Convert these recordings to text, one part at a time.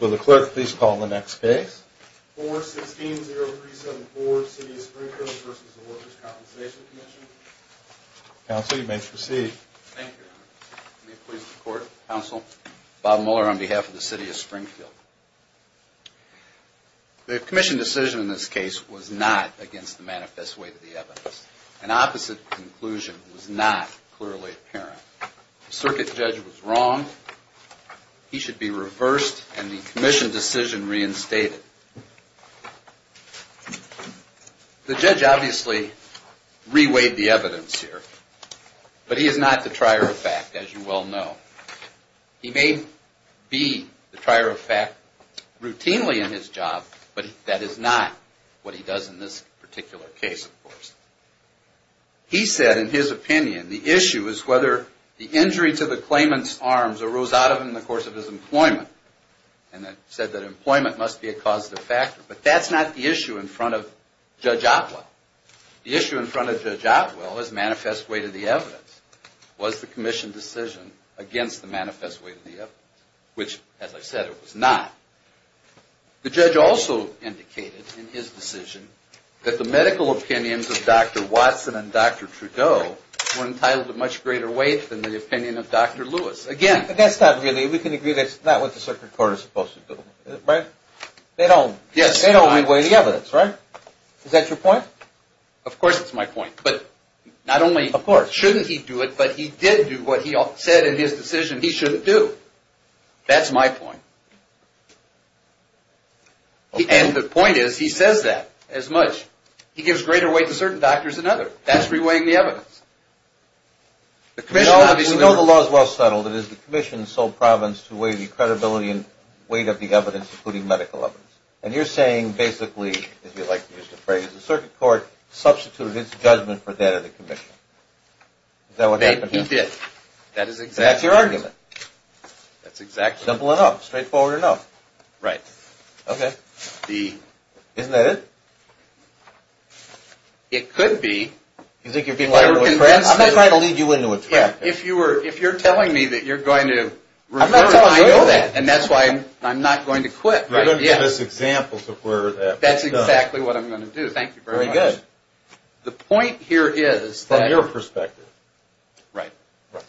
Will the clerk please call the next case. 4-16-037-4, City of Springfield v. Workers' Compensation Comm'n. Counsel, you may proceed. Thank you, Your Honor. May it please the Court. Counsel, Bob Mueller on behalf of the City of Springfield. The Commission decision in this case was not against the manifest way to the evidence. An opposite conclusion was not clearly apparent. The circuit judge was wrong. He should be reversed and the Commission decision reinstated. The judge obviously reweighed the evidence here. But he is not the trier of fact, as you well know. He may be the trier of fact routinely in his job, but that is not what he does in this particular case, of course. He said in his opinion, the issue is whether the injury to the claimant's arms arose out of him in the course of his employment. And that said that employment must be a causative factor. But that's not the issue in front of Judge Otwell. The issue in front of Judge Otwell is manifest way to the evidence. Was the Commission decision against the manifest way to the evidence? Which, as I said, it was not. The judge also indicated in his decision that the medical opinions of Dr. Watson and Dr. Trudeau were entitled to much greater weight than the opinion of Dr. Lewis. Again... But that's not really, we can agree that's not what the circuit court is supposed to do, right? They don't reweigh the evidence, right? Is that your point? Of course it's my point. But not only shouldn't he do it, but he did do what he said in his decision he shouldn't do. That's my point. And the point is, he says that as much. He gives greater weight to certain doctors than others. That's reweighing the evidence. We know the law is well settled. It is the Commission's sole province to weigh the credibility and weight of the evidence, including medical evidence. And you're saying basically, as you like to use the phrase, the circuit court substituted its judgment for that of the Commission. He did. That's your argument. Simple enough. Straightforward enough. Right. Okay. Isn't that it? It could be. I'm not trying to lead you into a trap. If you're telling me that you're going to... I'm not telling you to do that. And that's why I'm not going to quit. You're going to give us examples of where that was done. That's exactly what I'm going to do. Thank you very much. Very good. The point here is... From your perspective. Right.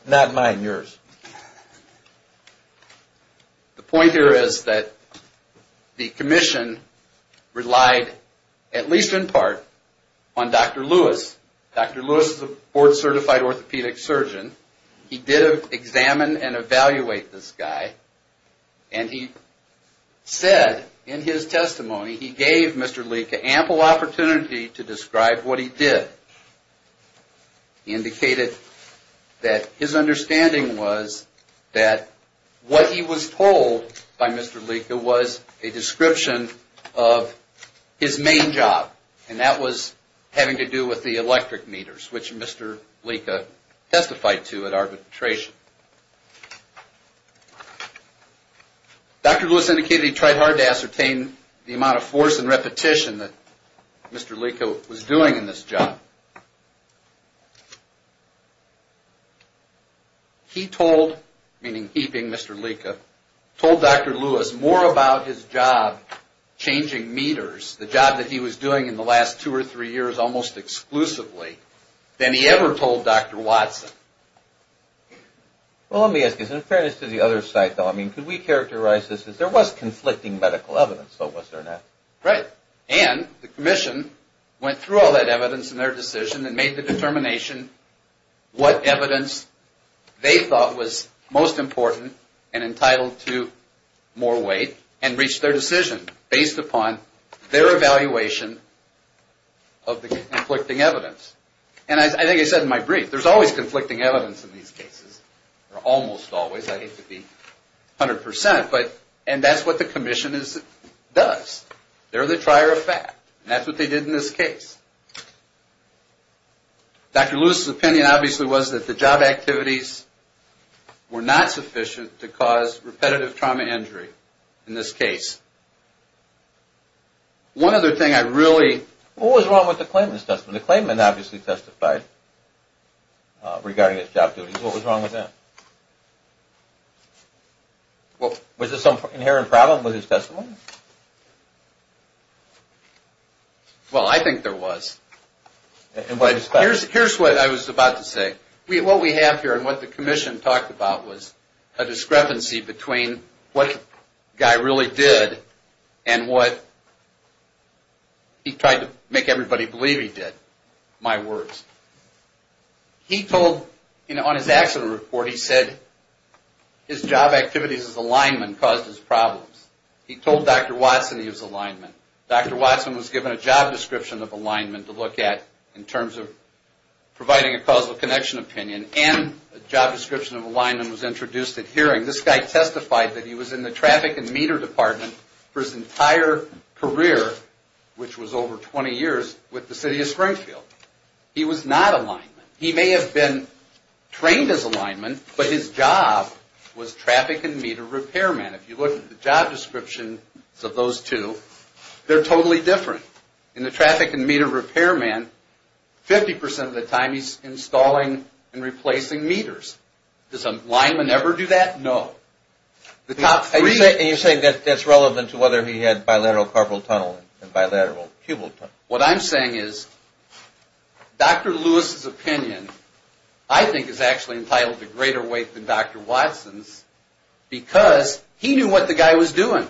Not mine, yours. The point here is that the Commission relied, at least in part, on Dr. Lewis. Dr. Lewis is a board-certified orthopedic surgeon. He did examine and evaluate this guy. And he said, in his testimony, he gave Mr. Leeka ample opportunity to describe what he did. He indicated that his understanding was that what he was told by Mr. Leeka was a description of his main job. And that was having to do with the electric meters, which Mr. Leeka testified to at arbitration. Dr. Lewis indicated he tried hard to ascertain the amount of force and repetition that Mr. Leeka was doing in this job. He told, meaning he being Mr. Leeka, told Dr. Lewis more about his job changing meters, the job that he was doing in the last two or three years, almost exclusively, than he ever told Dr. Watson. Well, let me ask you this. In fairness to the other side, though, I mean, could we characterize this as there was conflicting medical evidence, though, was there not? Right. And the commission went through all that evidence in their decision and made the determination what evidence they thought was most important and entitled to more weight and reached their decision based upon their evaluation of the conflicting evidence. And I think I said in my brief, there's always conflicting evidence in these cases, or almost always, I hate to be 100%, and that's what the commission does. They're the trier of fact. And that's what they did in this case. Dr. Lewis' opinion, obviously, was that the job activities were not sufficient to cause repetitive trauma injury in this case. One other thing I really... What was wrong with the claimant's testimony? The claimant obviously testified regarding his job duties. What was wrong with that? Was there some inherent problem with his testimony? Well, I think there was. Here's what I was about to say. What we have here and what the commission talked about was a discrepancy between what the guy really did and what he tried to make everybody believe he did. My words. He told, on his accident report, he said his job activities as a lineman caused his problems. He told Dr. Watson he was a lineman. Dr. Watson was given a job description of a lineman to look at in terms of providing a causal connection opinion and a job description of a lineman was introduced at hearing. This guy testified that he was in the traffic and meter department for his entire career, which was over 20 years, with the city of Springfield. He was not a lineman. He may have been trained as a lineman, but his job was traffic and meter repairman. If you look at the job descriptions of those two, they're totally different. In the traffic and meter repairman, 50% of the time he's installing and replacing meters. Does a lineman ever do that? No. You're saying that's relevant to whether he had bilateral carpal tunnel and bilateral cubal tunnel? What I'm saying is Dr. Lewis' opinion, I think, is actually entitled to greater weight than Dr. Watson's because he knew what the guy was doing.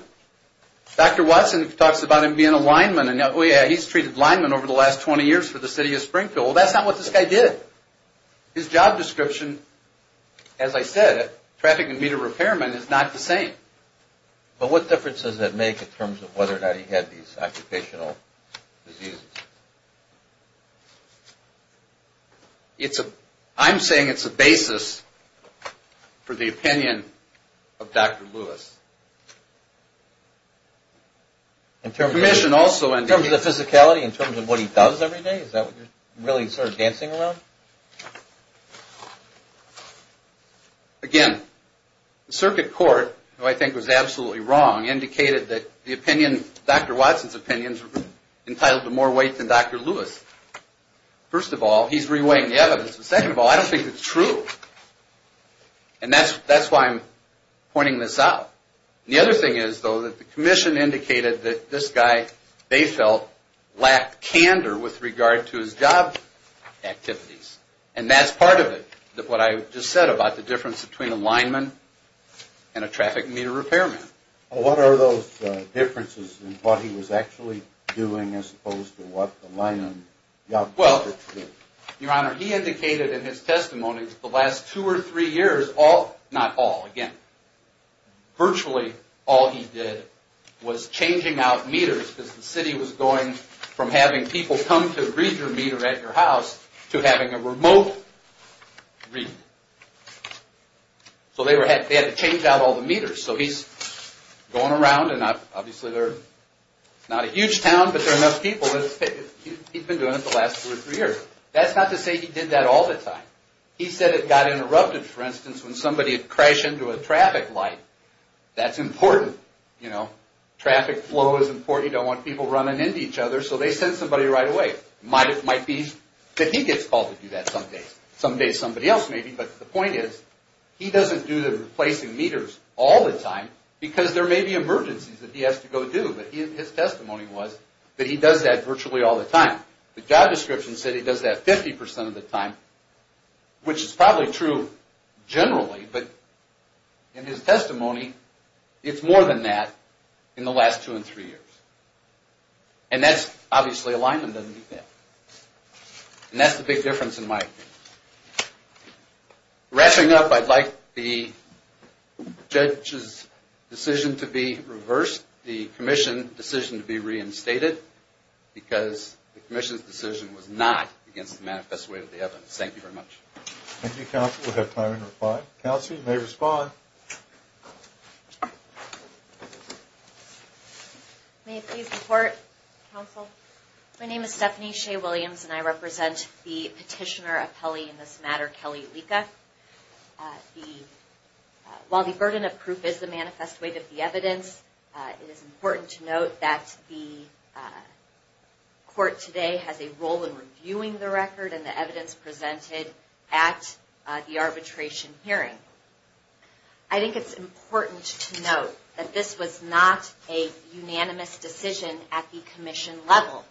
Dr. Watson talks about him being a lineman. He's treated linemen over the last 20 years for the city of Springfield. That's not what this guy did. His job description, as I said, traffic and meter repairman is not the same. But what difference does that make in terms of whether or not he had these occupational diseases? I'm saying it's a basis for the opinion of Dr. Lewis. In terms of physicality, in terms of what he does every day, is that what you're really sort of dancing around? Again, the circuit court, who I think was absolutely wrong, indicated that Dr. Watson's opinion is entitled to more weight than Dr. Lewis. First of all, he's reweighing the evidence. Second of all, I don't think it's true. And that's why I'm pointing this out. The other thing is, though, that the commission indicated that this guy, they felt, lacked candor with regard to his job activities. And that's part of it, what I just said about the difference between a lineman and a traffic and meter repairman. Well, what are those differences in what he was actually doing as opposed to what the lineman did? Your Honor, he indicated in his testimony the last two or three years, all, not all, again, virtually all he did was changing out meters because the city was going from having people come to read your meter at your house to having a remote read. So they had to change out all the meters. So he's going around, and obviously, it's not a huge town, but there are enough people. He's been doing it the last two or three years. That's not to say he did that all the time. He said it got interrupted, for instance, when somebody would crash into a traffic light. That's important. Traffic flow is important. You don't want people running into each other, so they send somebody right away. It might be that he gets called to do that some days. Some days, somebody else may be, but the point is, he doesn't do the replacing meters all the time because there may be emergencies that he has to go do. But his testimony was that he does that virtually all the time. The job description said he does that 50% of the time, which is probably true generally, but in his testimony, it's more than that in the last two or three years. And that's obviously alignment doesn't mean that. And that's the big difference in my opinion. Wrapping up, I'd like the judge's decision to be reversed, the commission's decision to be reinstated, because the commission's decision was not against the manifest way of the evidence. Thank you very much. Thank you, counsel. We'll have time to reply. Counsel, you may respond. May I please report, counsel? My name is Stephanie Shea Williams, and I represent the petitioner appellee in this matter, Kelly Lika. While the burden of proof is the manifest way of the evidence, it is important to note that the court today has a role in reviewing the record and the evidence presented at the arbitration hearing. I think it's important to note that this was not a unanimous decision at the commission level.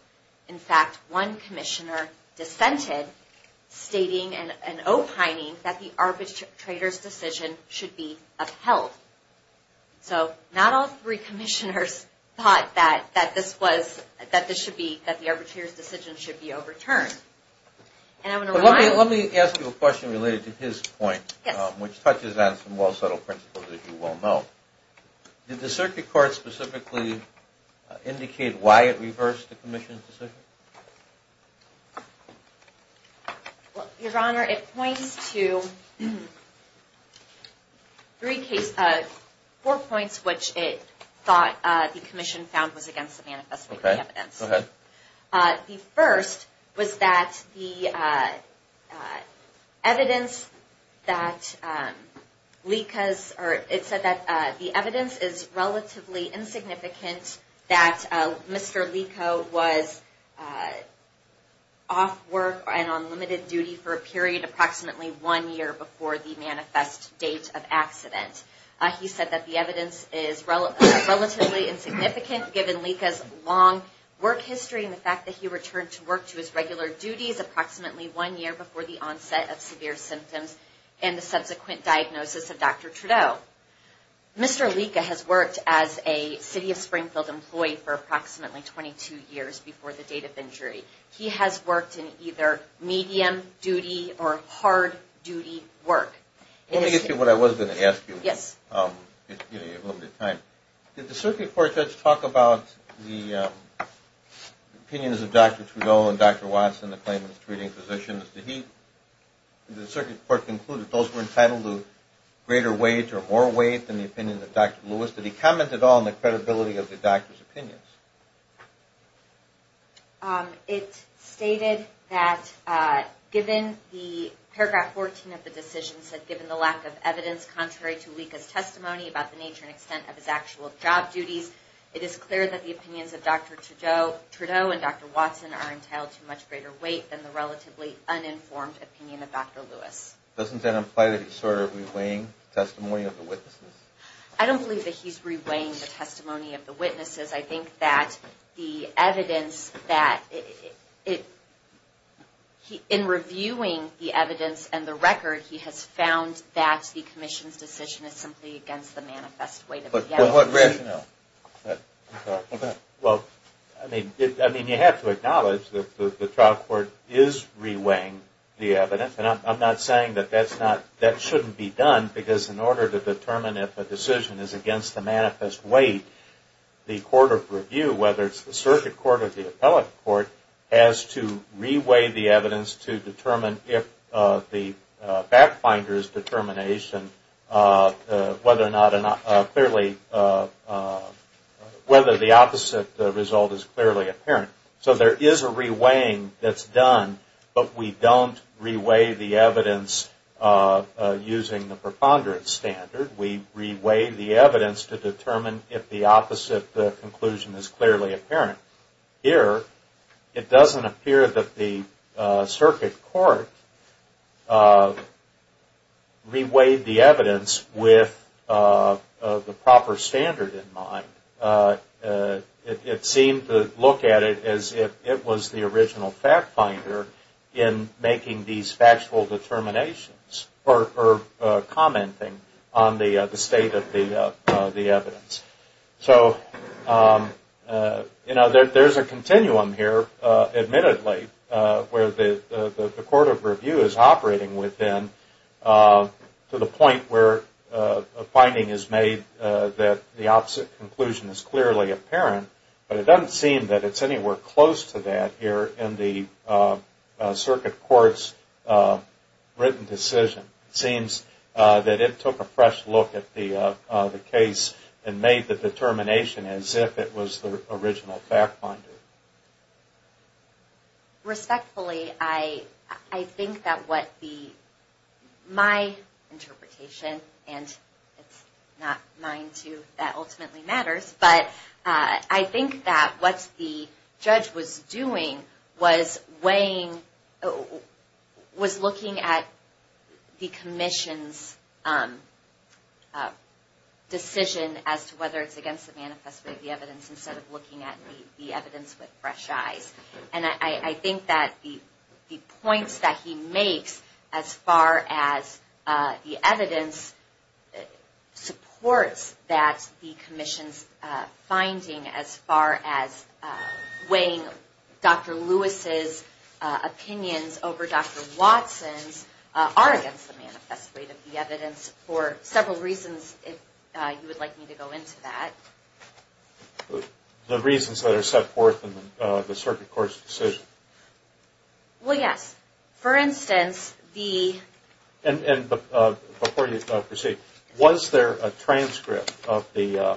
In fact, one commissioner dissented, stating and opining that the arbitrator's decision should be upheld. So not all three commissioners thought that this should be, that the arbitrator's decision should be overturned. Let me ask you a question related to his point, which touches on some well-settled principles, as you well know. Did the circuit court specifically indicate why it reversed the commission's decision? Your Honor, it points to four points which it thought the commission found was against the manifest way of the evidence. The first was that the evidence that Lika's, or it said that the evidence is relatively insignificant that Mr. Lika was off work and on limited duty for a period approximately one year before the manifest date of accident. He said that the evidence is relatively insignificant given Lika's long work history and the fact that he returned to work to his regular duties approximately one year before the onset of severe symptoms and the subsequent diagnosis of Dr. Trudeau. Mr. Lika has worked as a City of Springfield employee for approximately 22 years before the date of injury. He has worked in either medium duty or hard duty work. Let me ask you what I was going to ask you. Did the circuit court judge talk about the opinions of Dr. Trudeau and Dr. Watson, the claimants treating physicians? Did the circuit court conclude that those were entitled to greater wage or more wage than the opinion of Dr. Lewis? Did he comment at all on the credibility of the doctor's opinions? It stated that given the paragraph 14 of the decision said given the lack of evidence contrary to Lika's testimony about the nature and extent of his actual job duties, it is clear that the opinions of Dr. Trudeau and Dr. Watson are entitled to much greater weight than the relatively uninformed opinion of Dr. Lewis. Doesn't that imply that he's sort of re-weighing the testimony of the witnesses? I don't believe that he's re-weighing the testimony of the witnesses. I think that the evidence that, in reviewing the evidence and the record, he has found that the commission's decision is simply against the manifest weight of the evidence. Well, I mean, you have to acknowledge that the trial court is re-weighing the evidence, and I'm not saying that that shouldn't be done, because in order to determine if a decision is against the manifest weight, the court of review, whether it's the circuit court or the appellate court, has to re-weigh the evidence to determine if the back finder's determination, whether or not it's clearly against the manifest weight of the evidence. Whether the opposite result is clearly apparent. So there is a re-weighing that's done, but we don't re-weigh the evidence using the preponderance standard. We re-weigh the evidence to determine if the opposite conclusion is clearly apparent. Here, it doesn't appear that the circuit court re-weighed the evidence with the proper standard in mind. It seemed to look at it as if it was the original fact finder in making these factual determinations or commenting on the state of the evidence. So, you know, there's a continuum here, admittedly, where the court of review is operating within to the point where a finding is made that the opposite conclusion is clearly apparent, but it doesn't seem that it's anywhere close to that here in the circuit court's written decision. It seems that it took a fresh look at the case and made the determination as if it was the original fact finder. Respectfully, I think that what the, my interpretation, and it's not mine too, that ultimately matters, but I think that what the judge was doing was weighing, was looking at the commission's decision as to whether it's against the manifest weight of the evidence instead of looking at the evidence with fresh eyes. And I think that the points that he makes as far as the evidence supports that the commission's finding as far as weighing Dr. Lewis's opinions over Dr. Watson's are against the manifest weight of the evidence for several reasons, if you would like me to go into that. The reasons that are set forth in the circuit court's decision. Well, yes. For instance, the... And before you proceed, was there a transcript of the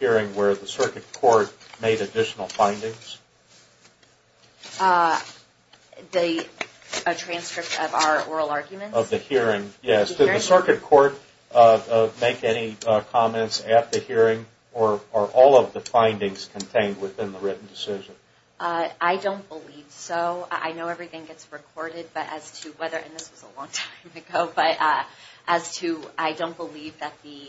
hearing where the circuit court made additional findings? A transcript of our oral arguments? Of the hearing, yes. Did the circuit court make any comments at the hearing or are all of the findings contained within the written decision? I don't believe so. I know everything gets recorded, but as to whether, and this was a long time ago, but as to, I don't believe that the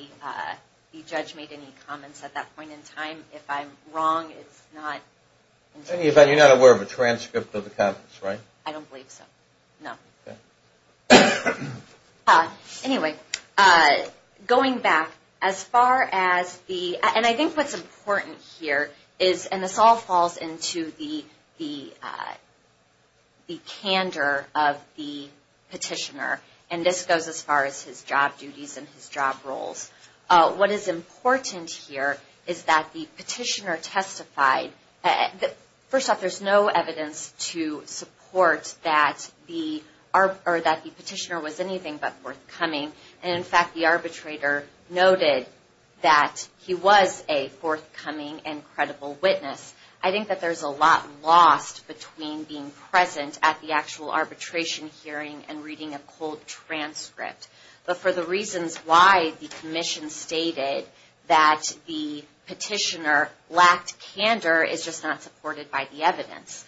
judge made any comments at that point in time. If I'm wrong, it's not... In any event, you're not aware of a transcript of the comments, right? I don't believe so, no. Anyway, going back, as far as the... And I think what's important here is, and this all falls into the candor of the petitioner, and this goes as far as his job duties and his job roles. What is important here is that the petitioner testified... First off, there's no evidence to support that the petitioner was anything but forthcoming. And in fact, the arbitrator noted that he was a forthcoming and credible witness. I think that there's a lot lost between being present at the actual arbitration hearing and reading a cold transcript. But for the reasons why the commission stated that the petitioner lacked candor is just not supported by the evidence.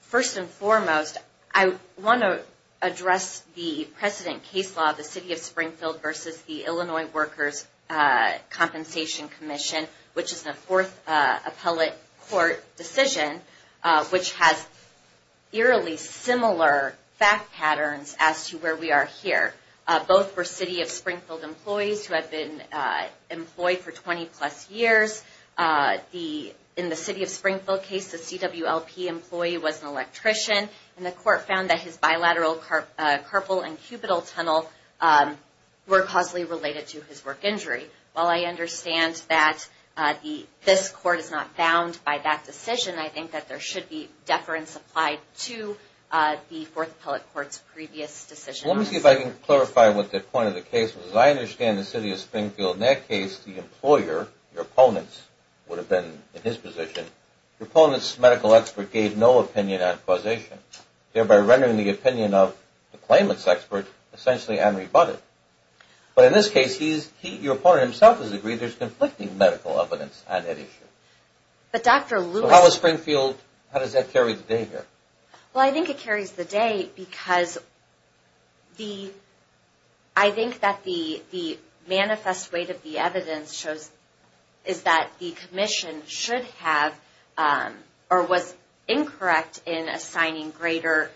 First and foremost, I want to address the precedent case law, the City of Springfield versus the Illinois Workers' Compensation Commission, which is a fourth appellate court decision, which has eerily similar fact patterns as to where we are here. Both were City of Springfield employees who had been employed for 20-plus years. In the City of Springfield case, the CWLP employee was an electrician, and the court found that his bilateral carpal and cupital tunnel were causally related to his work injury. While I understand that this court is not bound by that decision, I think that there should be deference applied to the fourth appellate court's previous decision. Let me see if I can clarify what the point of the case was. As I understand the City of Springfield, in that case, the employer, your opponents, would have been in his position. Your opponent's medical expert gave no opinion on causation, thereby rendering the opinion of the claimant's expert essentially unrebutted. But in this case, your opponent himself has agreed there's conflicting medical evidence on that issue. So how does that carry the day here? Well, I think it carries the day because I think that the manifest weight of the evidence shows is that the commission should have or was incorrect in assigning greater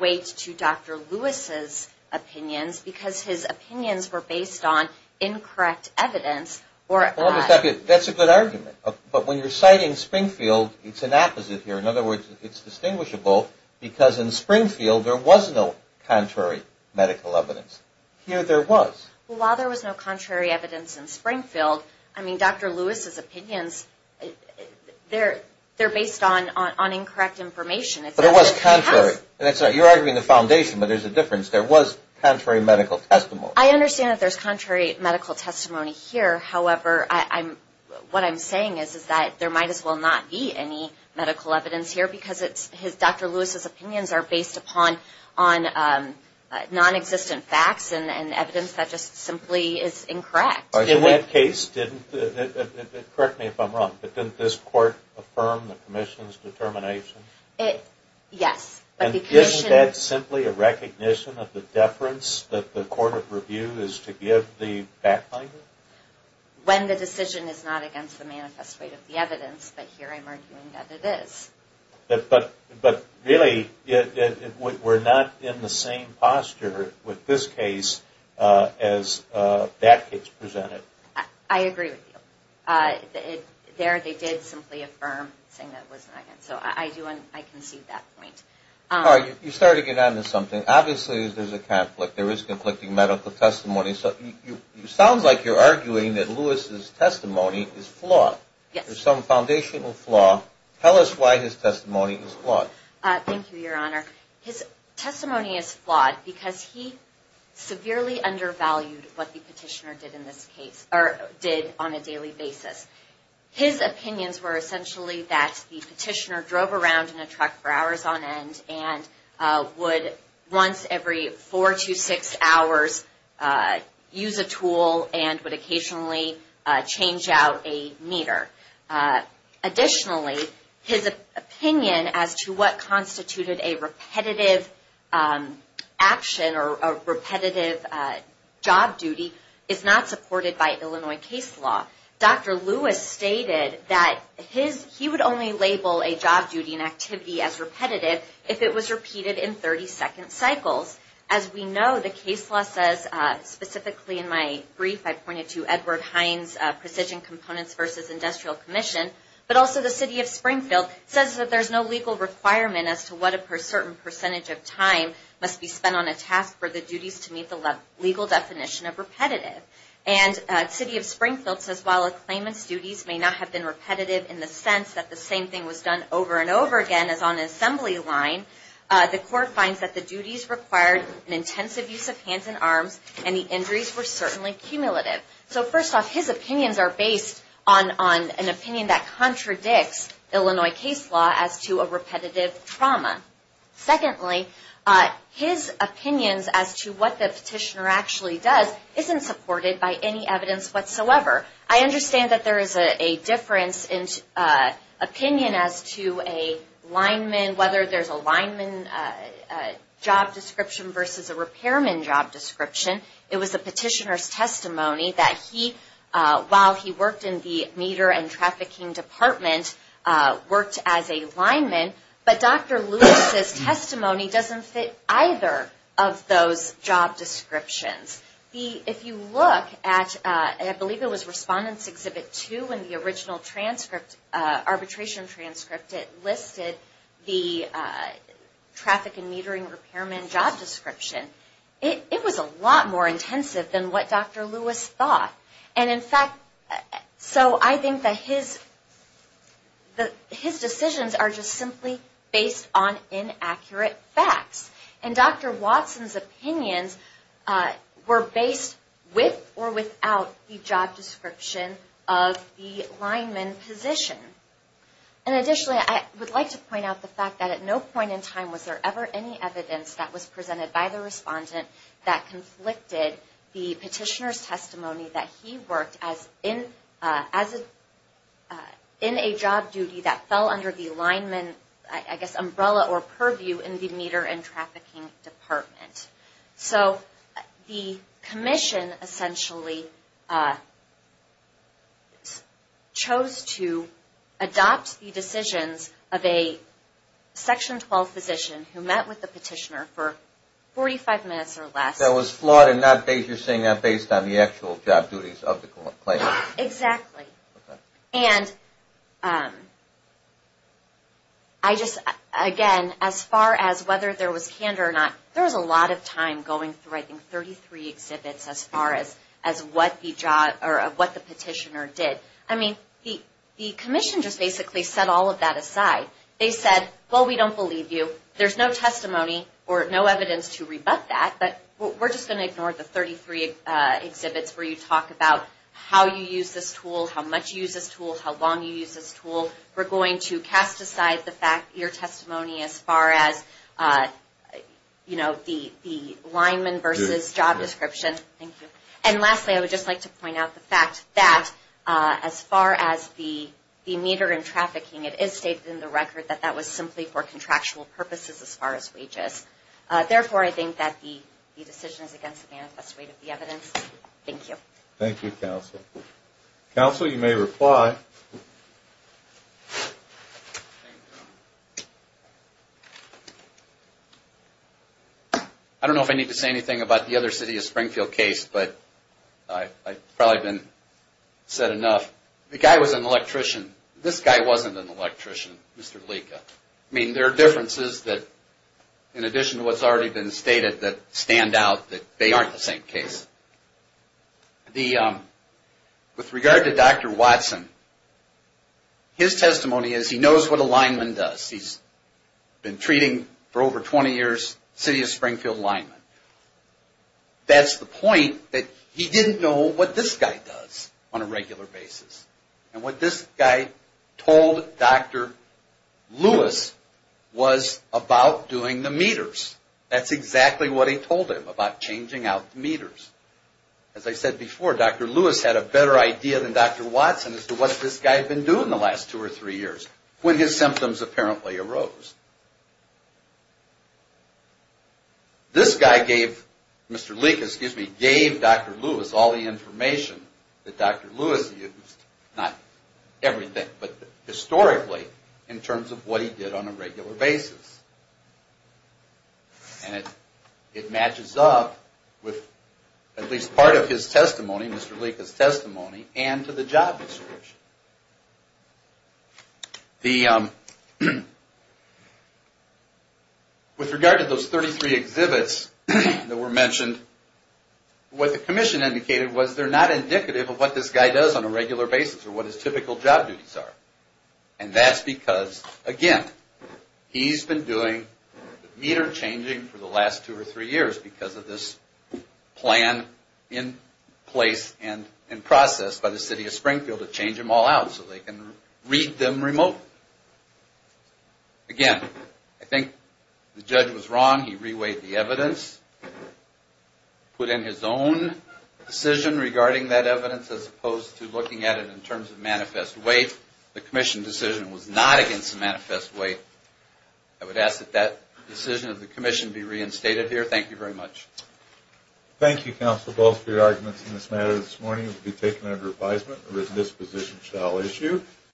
weight to Dr. Lewis's opinions because his opinions were based on incorrect evidence. That's a good argument. But when you're citing Springfield, it's an opposite here. In other words, it's distinguishable because in Springfield, there was no contrary medical evidence. Here, there was. Well, while there was no contrary evidence in Springfield, I mean, Dr. Lewis's opinions, they're based on incorrect information. But it was contrary. That's right. You're arguing the foundation, but there's a difference. There was contrary medical testimony. I understand that there's contrary medical testimony here. However, what I'm saying is that there might as well not be any medical evidence here because Dr. Lewis's opinions are based upon nonexistent facts and evidence that just simply is incorrect. In that case, didn't this court affirm the commission's determination? Yes. Isn't that simply a recognition of the deference that the court of review is to give the fact finder? When the decision is not against the manifest way of the evidence, but here I'm arguing that it is. But really, we're not in the same posture with this case as that case presented. I agree with you. There, they did simply affirm saying that it was not. So I do want to concede that point. All right. You started to get on to something. Obviously, there's a conflict. There is conflicting medical testimony. So it sounds like you're arguing that Lewis's testimony is flawed. There's some foundational flaw. Tell us why his testimony is flawed. Thank you, Your Honor. His testimony is flawed because he severely undervalued what the petitioner did on a daily basis. His opinions were essentially that the petitioner drove around in a truck for hours on end and would once every four to six hours use a tool and would occasionally change out a meter. Additionally, his opinion as to what constituted a repetitive action or repetitive job duty is not supported by Illinois case law. Dr. Lewis stated that he would only label a job duty and activity as repetitive if it was repeated in 30-second cycles. As we know, the case law says, specifically in my brief, I pointed to Edward Hines' Precision Components v. Industrial Commission, but also the city of Springfield says that there's no legal requirement as to what a certain percentage of time must be spent on a task for the duties to meet the legal definition of repetitive. And the city of Springfield says while a claimant's duties may not have been repetitive in the sense that the same thing was done over and over again as on an assembly line, the court finds that the duties required an intensive use of hands and arms and the injuries were certainly cumulative. So first off, his opinions are based on an opinion that contradicts Illinois case law as to a repetitive trauma. Secondly, his opinions as to what the petitioner actually does isn't supported by any evidence whatsoever. I understand that there is a difference in opinion as to a lineman, whether there's a lineman job description versus a repairman job description. It was the petitioner's testimony that he, while he worked in the meter and trafficking department, worked as a lineman. But Dr. Lewis's testimony doesn't fit either of those job descriptions. If you look at, I believe it was Respondents Exhibit 2 in the original transcript, arbitration transcript, it listed the traffic and metering repairman job description. It was a lot more intensive than what Dr. Lewis thought. And in fact, so I think that his decisions are just simply based on inaccurate facts. And Dr. Watson's opinions were based with or without the job description of the lineman position. And additionally, I would like to point out the fact that at no point in time was there ever any evidence that was presented by the respondent that conflicted the petitioner's testimony that he worked in a job duty that fell under the lineman, I guess, umbrella or purview in the meter and trafficking department. So the commission essentially chose to adopt the decisions of a Section 12 physician who met with the petitioner for 45 minutes or less. That was flawed in that you're saying that based on the actual job duties of the claimant. Exactly. And I just, again, as far as whether there was candor or not, there was a lot of time going through, I think, 33 exhibits as far as what the petitioner did. I mean, the commission just basically set all of that aside. They said, well, we don't believe you. There's no testimony or no evidence to rebut that. But we're just going to ignore the 33 exhibits where you talk about how you use this tool, how much you use this tool, how long you use this tool. We're going to cast aside your testimony as far as, you know, the lineman versus job description. Thank you. And lastly, I would just like to point out the fact that as far as the meter and trafficking, it is stated in the record that that was simply for contractual purposes as far as wages. Therefore, I think that the decision is against the manifest rate of the evidence. Thank you. Thank you, counsel. Counsel, you may reply. I don't know if I need to say anything about the other city of Springfield case, but I've probably been said enough. The guy was an electrician. This guy wasn't an electrician, Mr. Lika. I mean, there are differences that, in addition to what's already been stated, that stand out that they aren't the same case. With regard to Dr. Watson, his testimony is he knows what a lineman does. He's been treating, for over 20 years, city of Springfield linemen. That's the point, that he didn't know what this guy does on a regular basis. And what this guy told Dr. Lewis was about doing the meters. That's exactly what he told him, about changing out the meters. As I said before, Dr. Lewis had a better idea than Dr. Watson as to what this guy had been doing the last two or three years, when his symptoms apparently arose. This guy gave Dr. Lewis all the information that Dr. Lewis used, not everything, but historically, in terms of what he did on a regular basis. And it matches up with at least part of his testimony, Mr. Lika's testimony, and to the job description. With regard to those 33 exhibits that were mentioned, what the commission indicated was they're not indicative of what this guy does on a regular basis, or what his typical job duties are. And that's because, again, he's been doing meter changing for the last two or three years, because of this plan in place and in process by the city of Springfield to change them all out, so they can read them remotely. Again, I think the judge was wrong. He reweighed the evidence, put in his own decision regarding that evidence, as opposed to looking at it in terms of manifest weight. The commission decision was not against the manifest weight. I would ask that that decision of the commission be reinstated here. Thank you very much.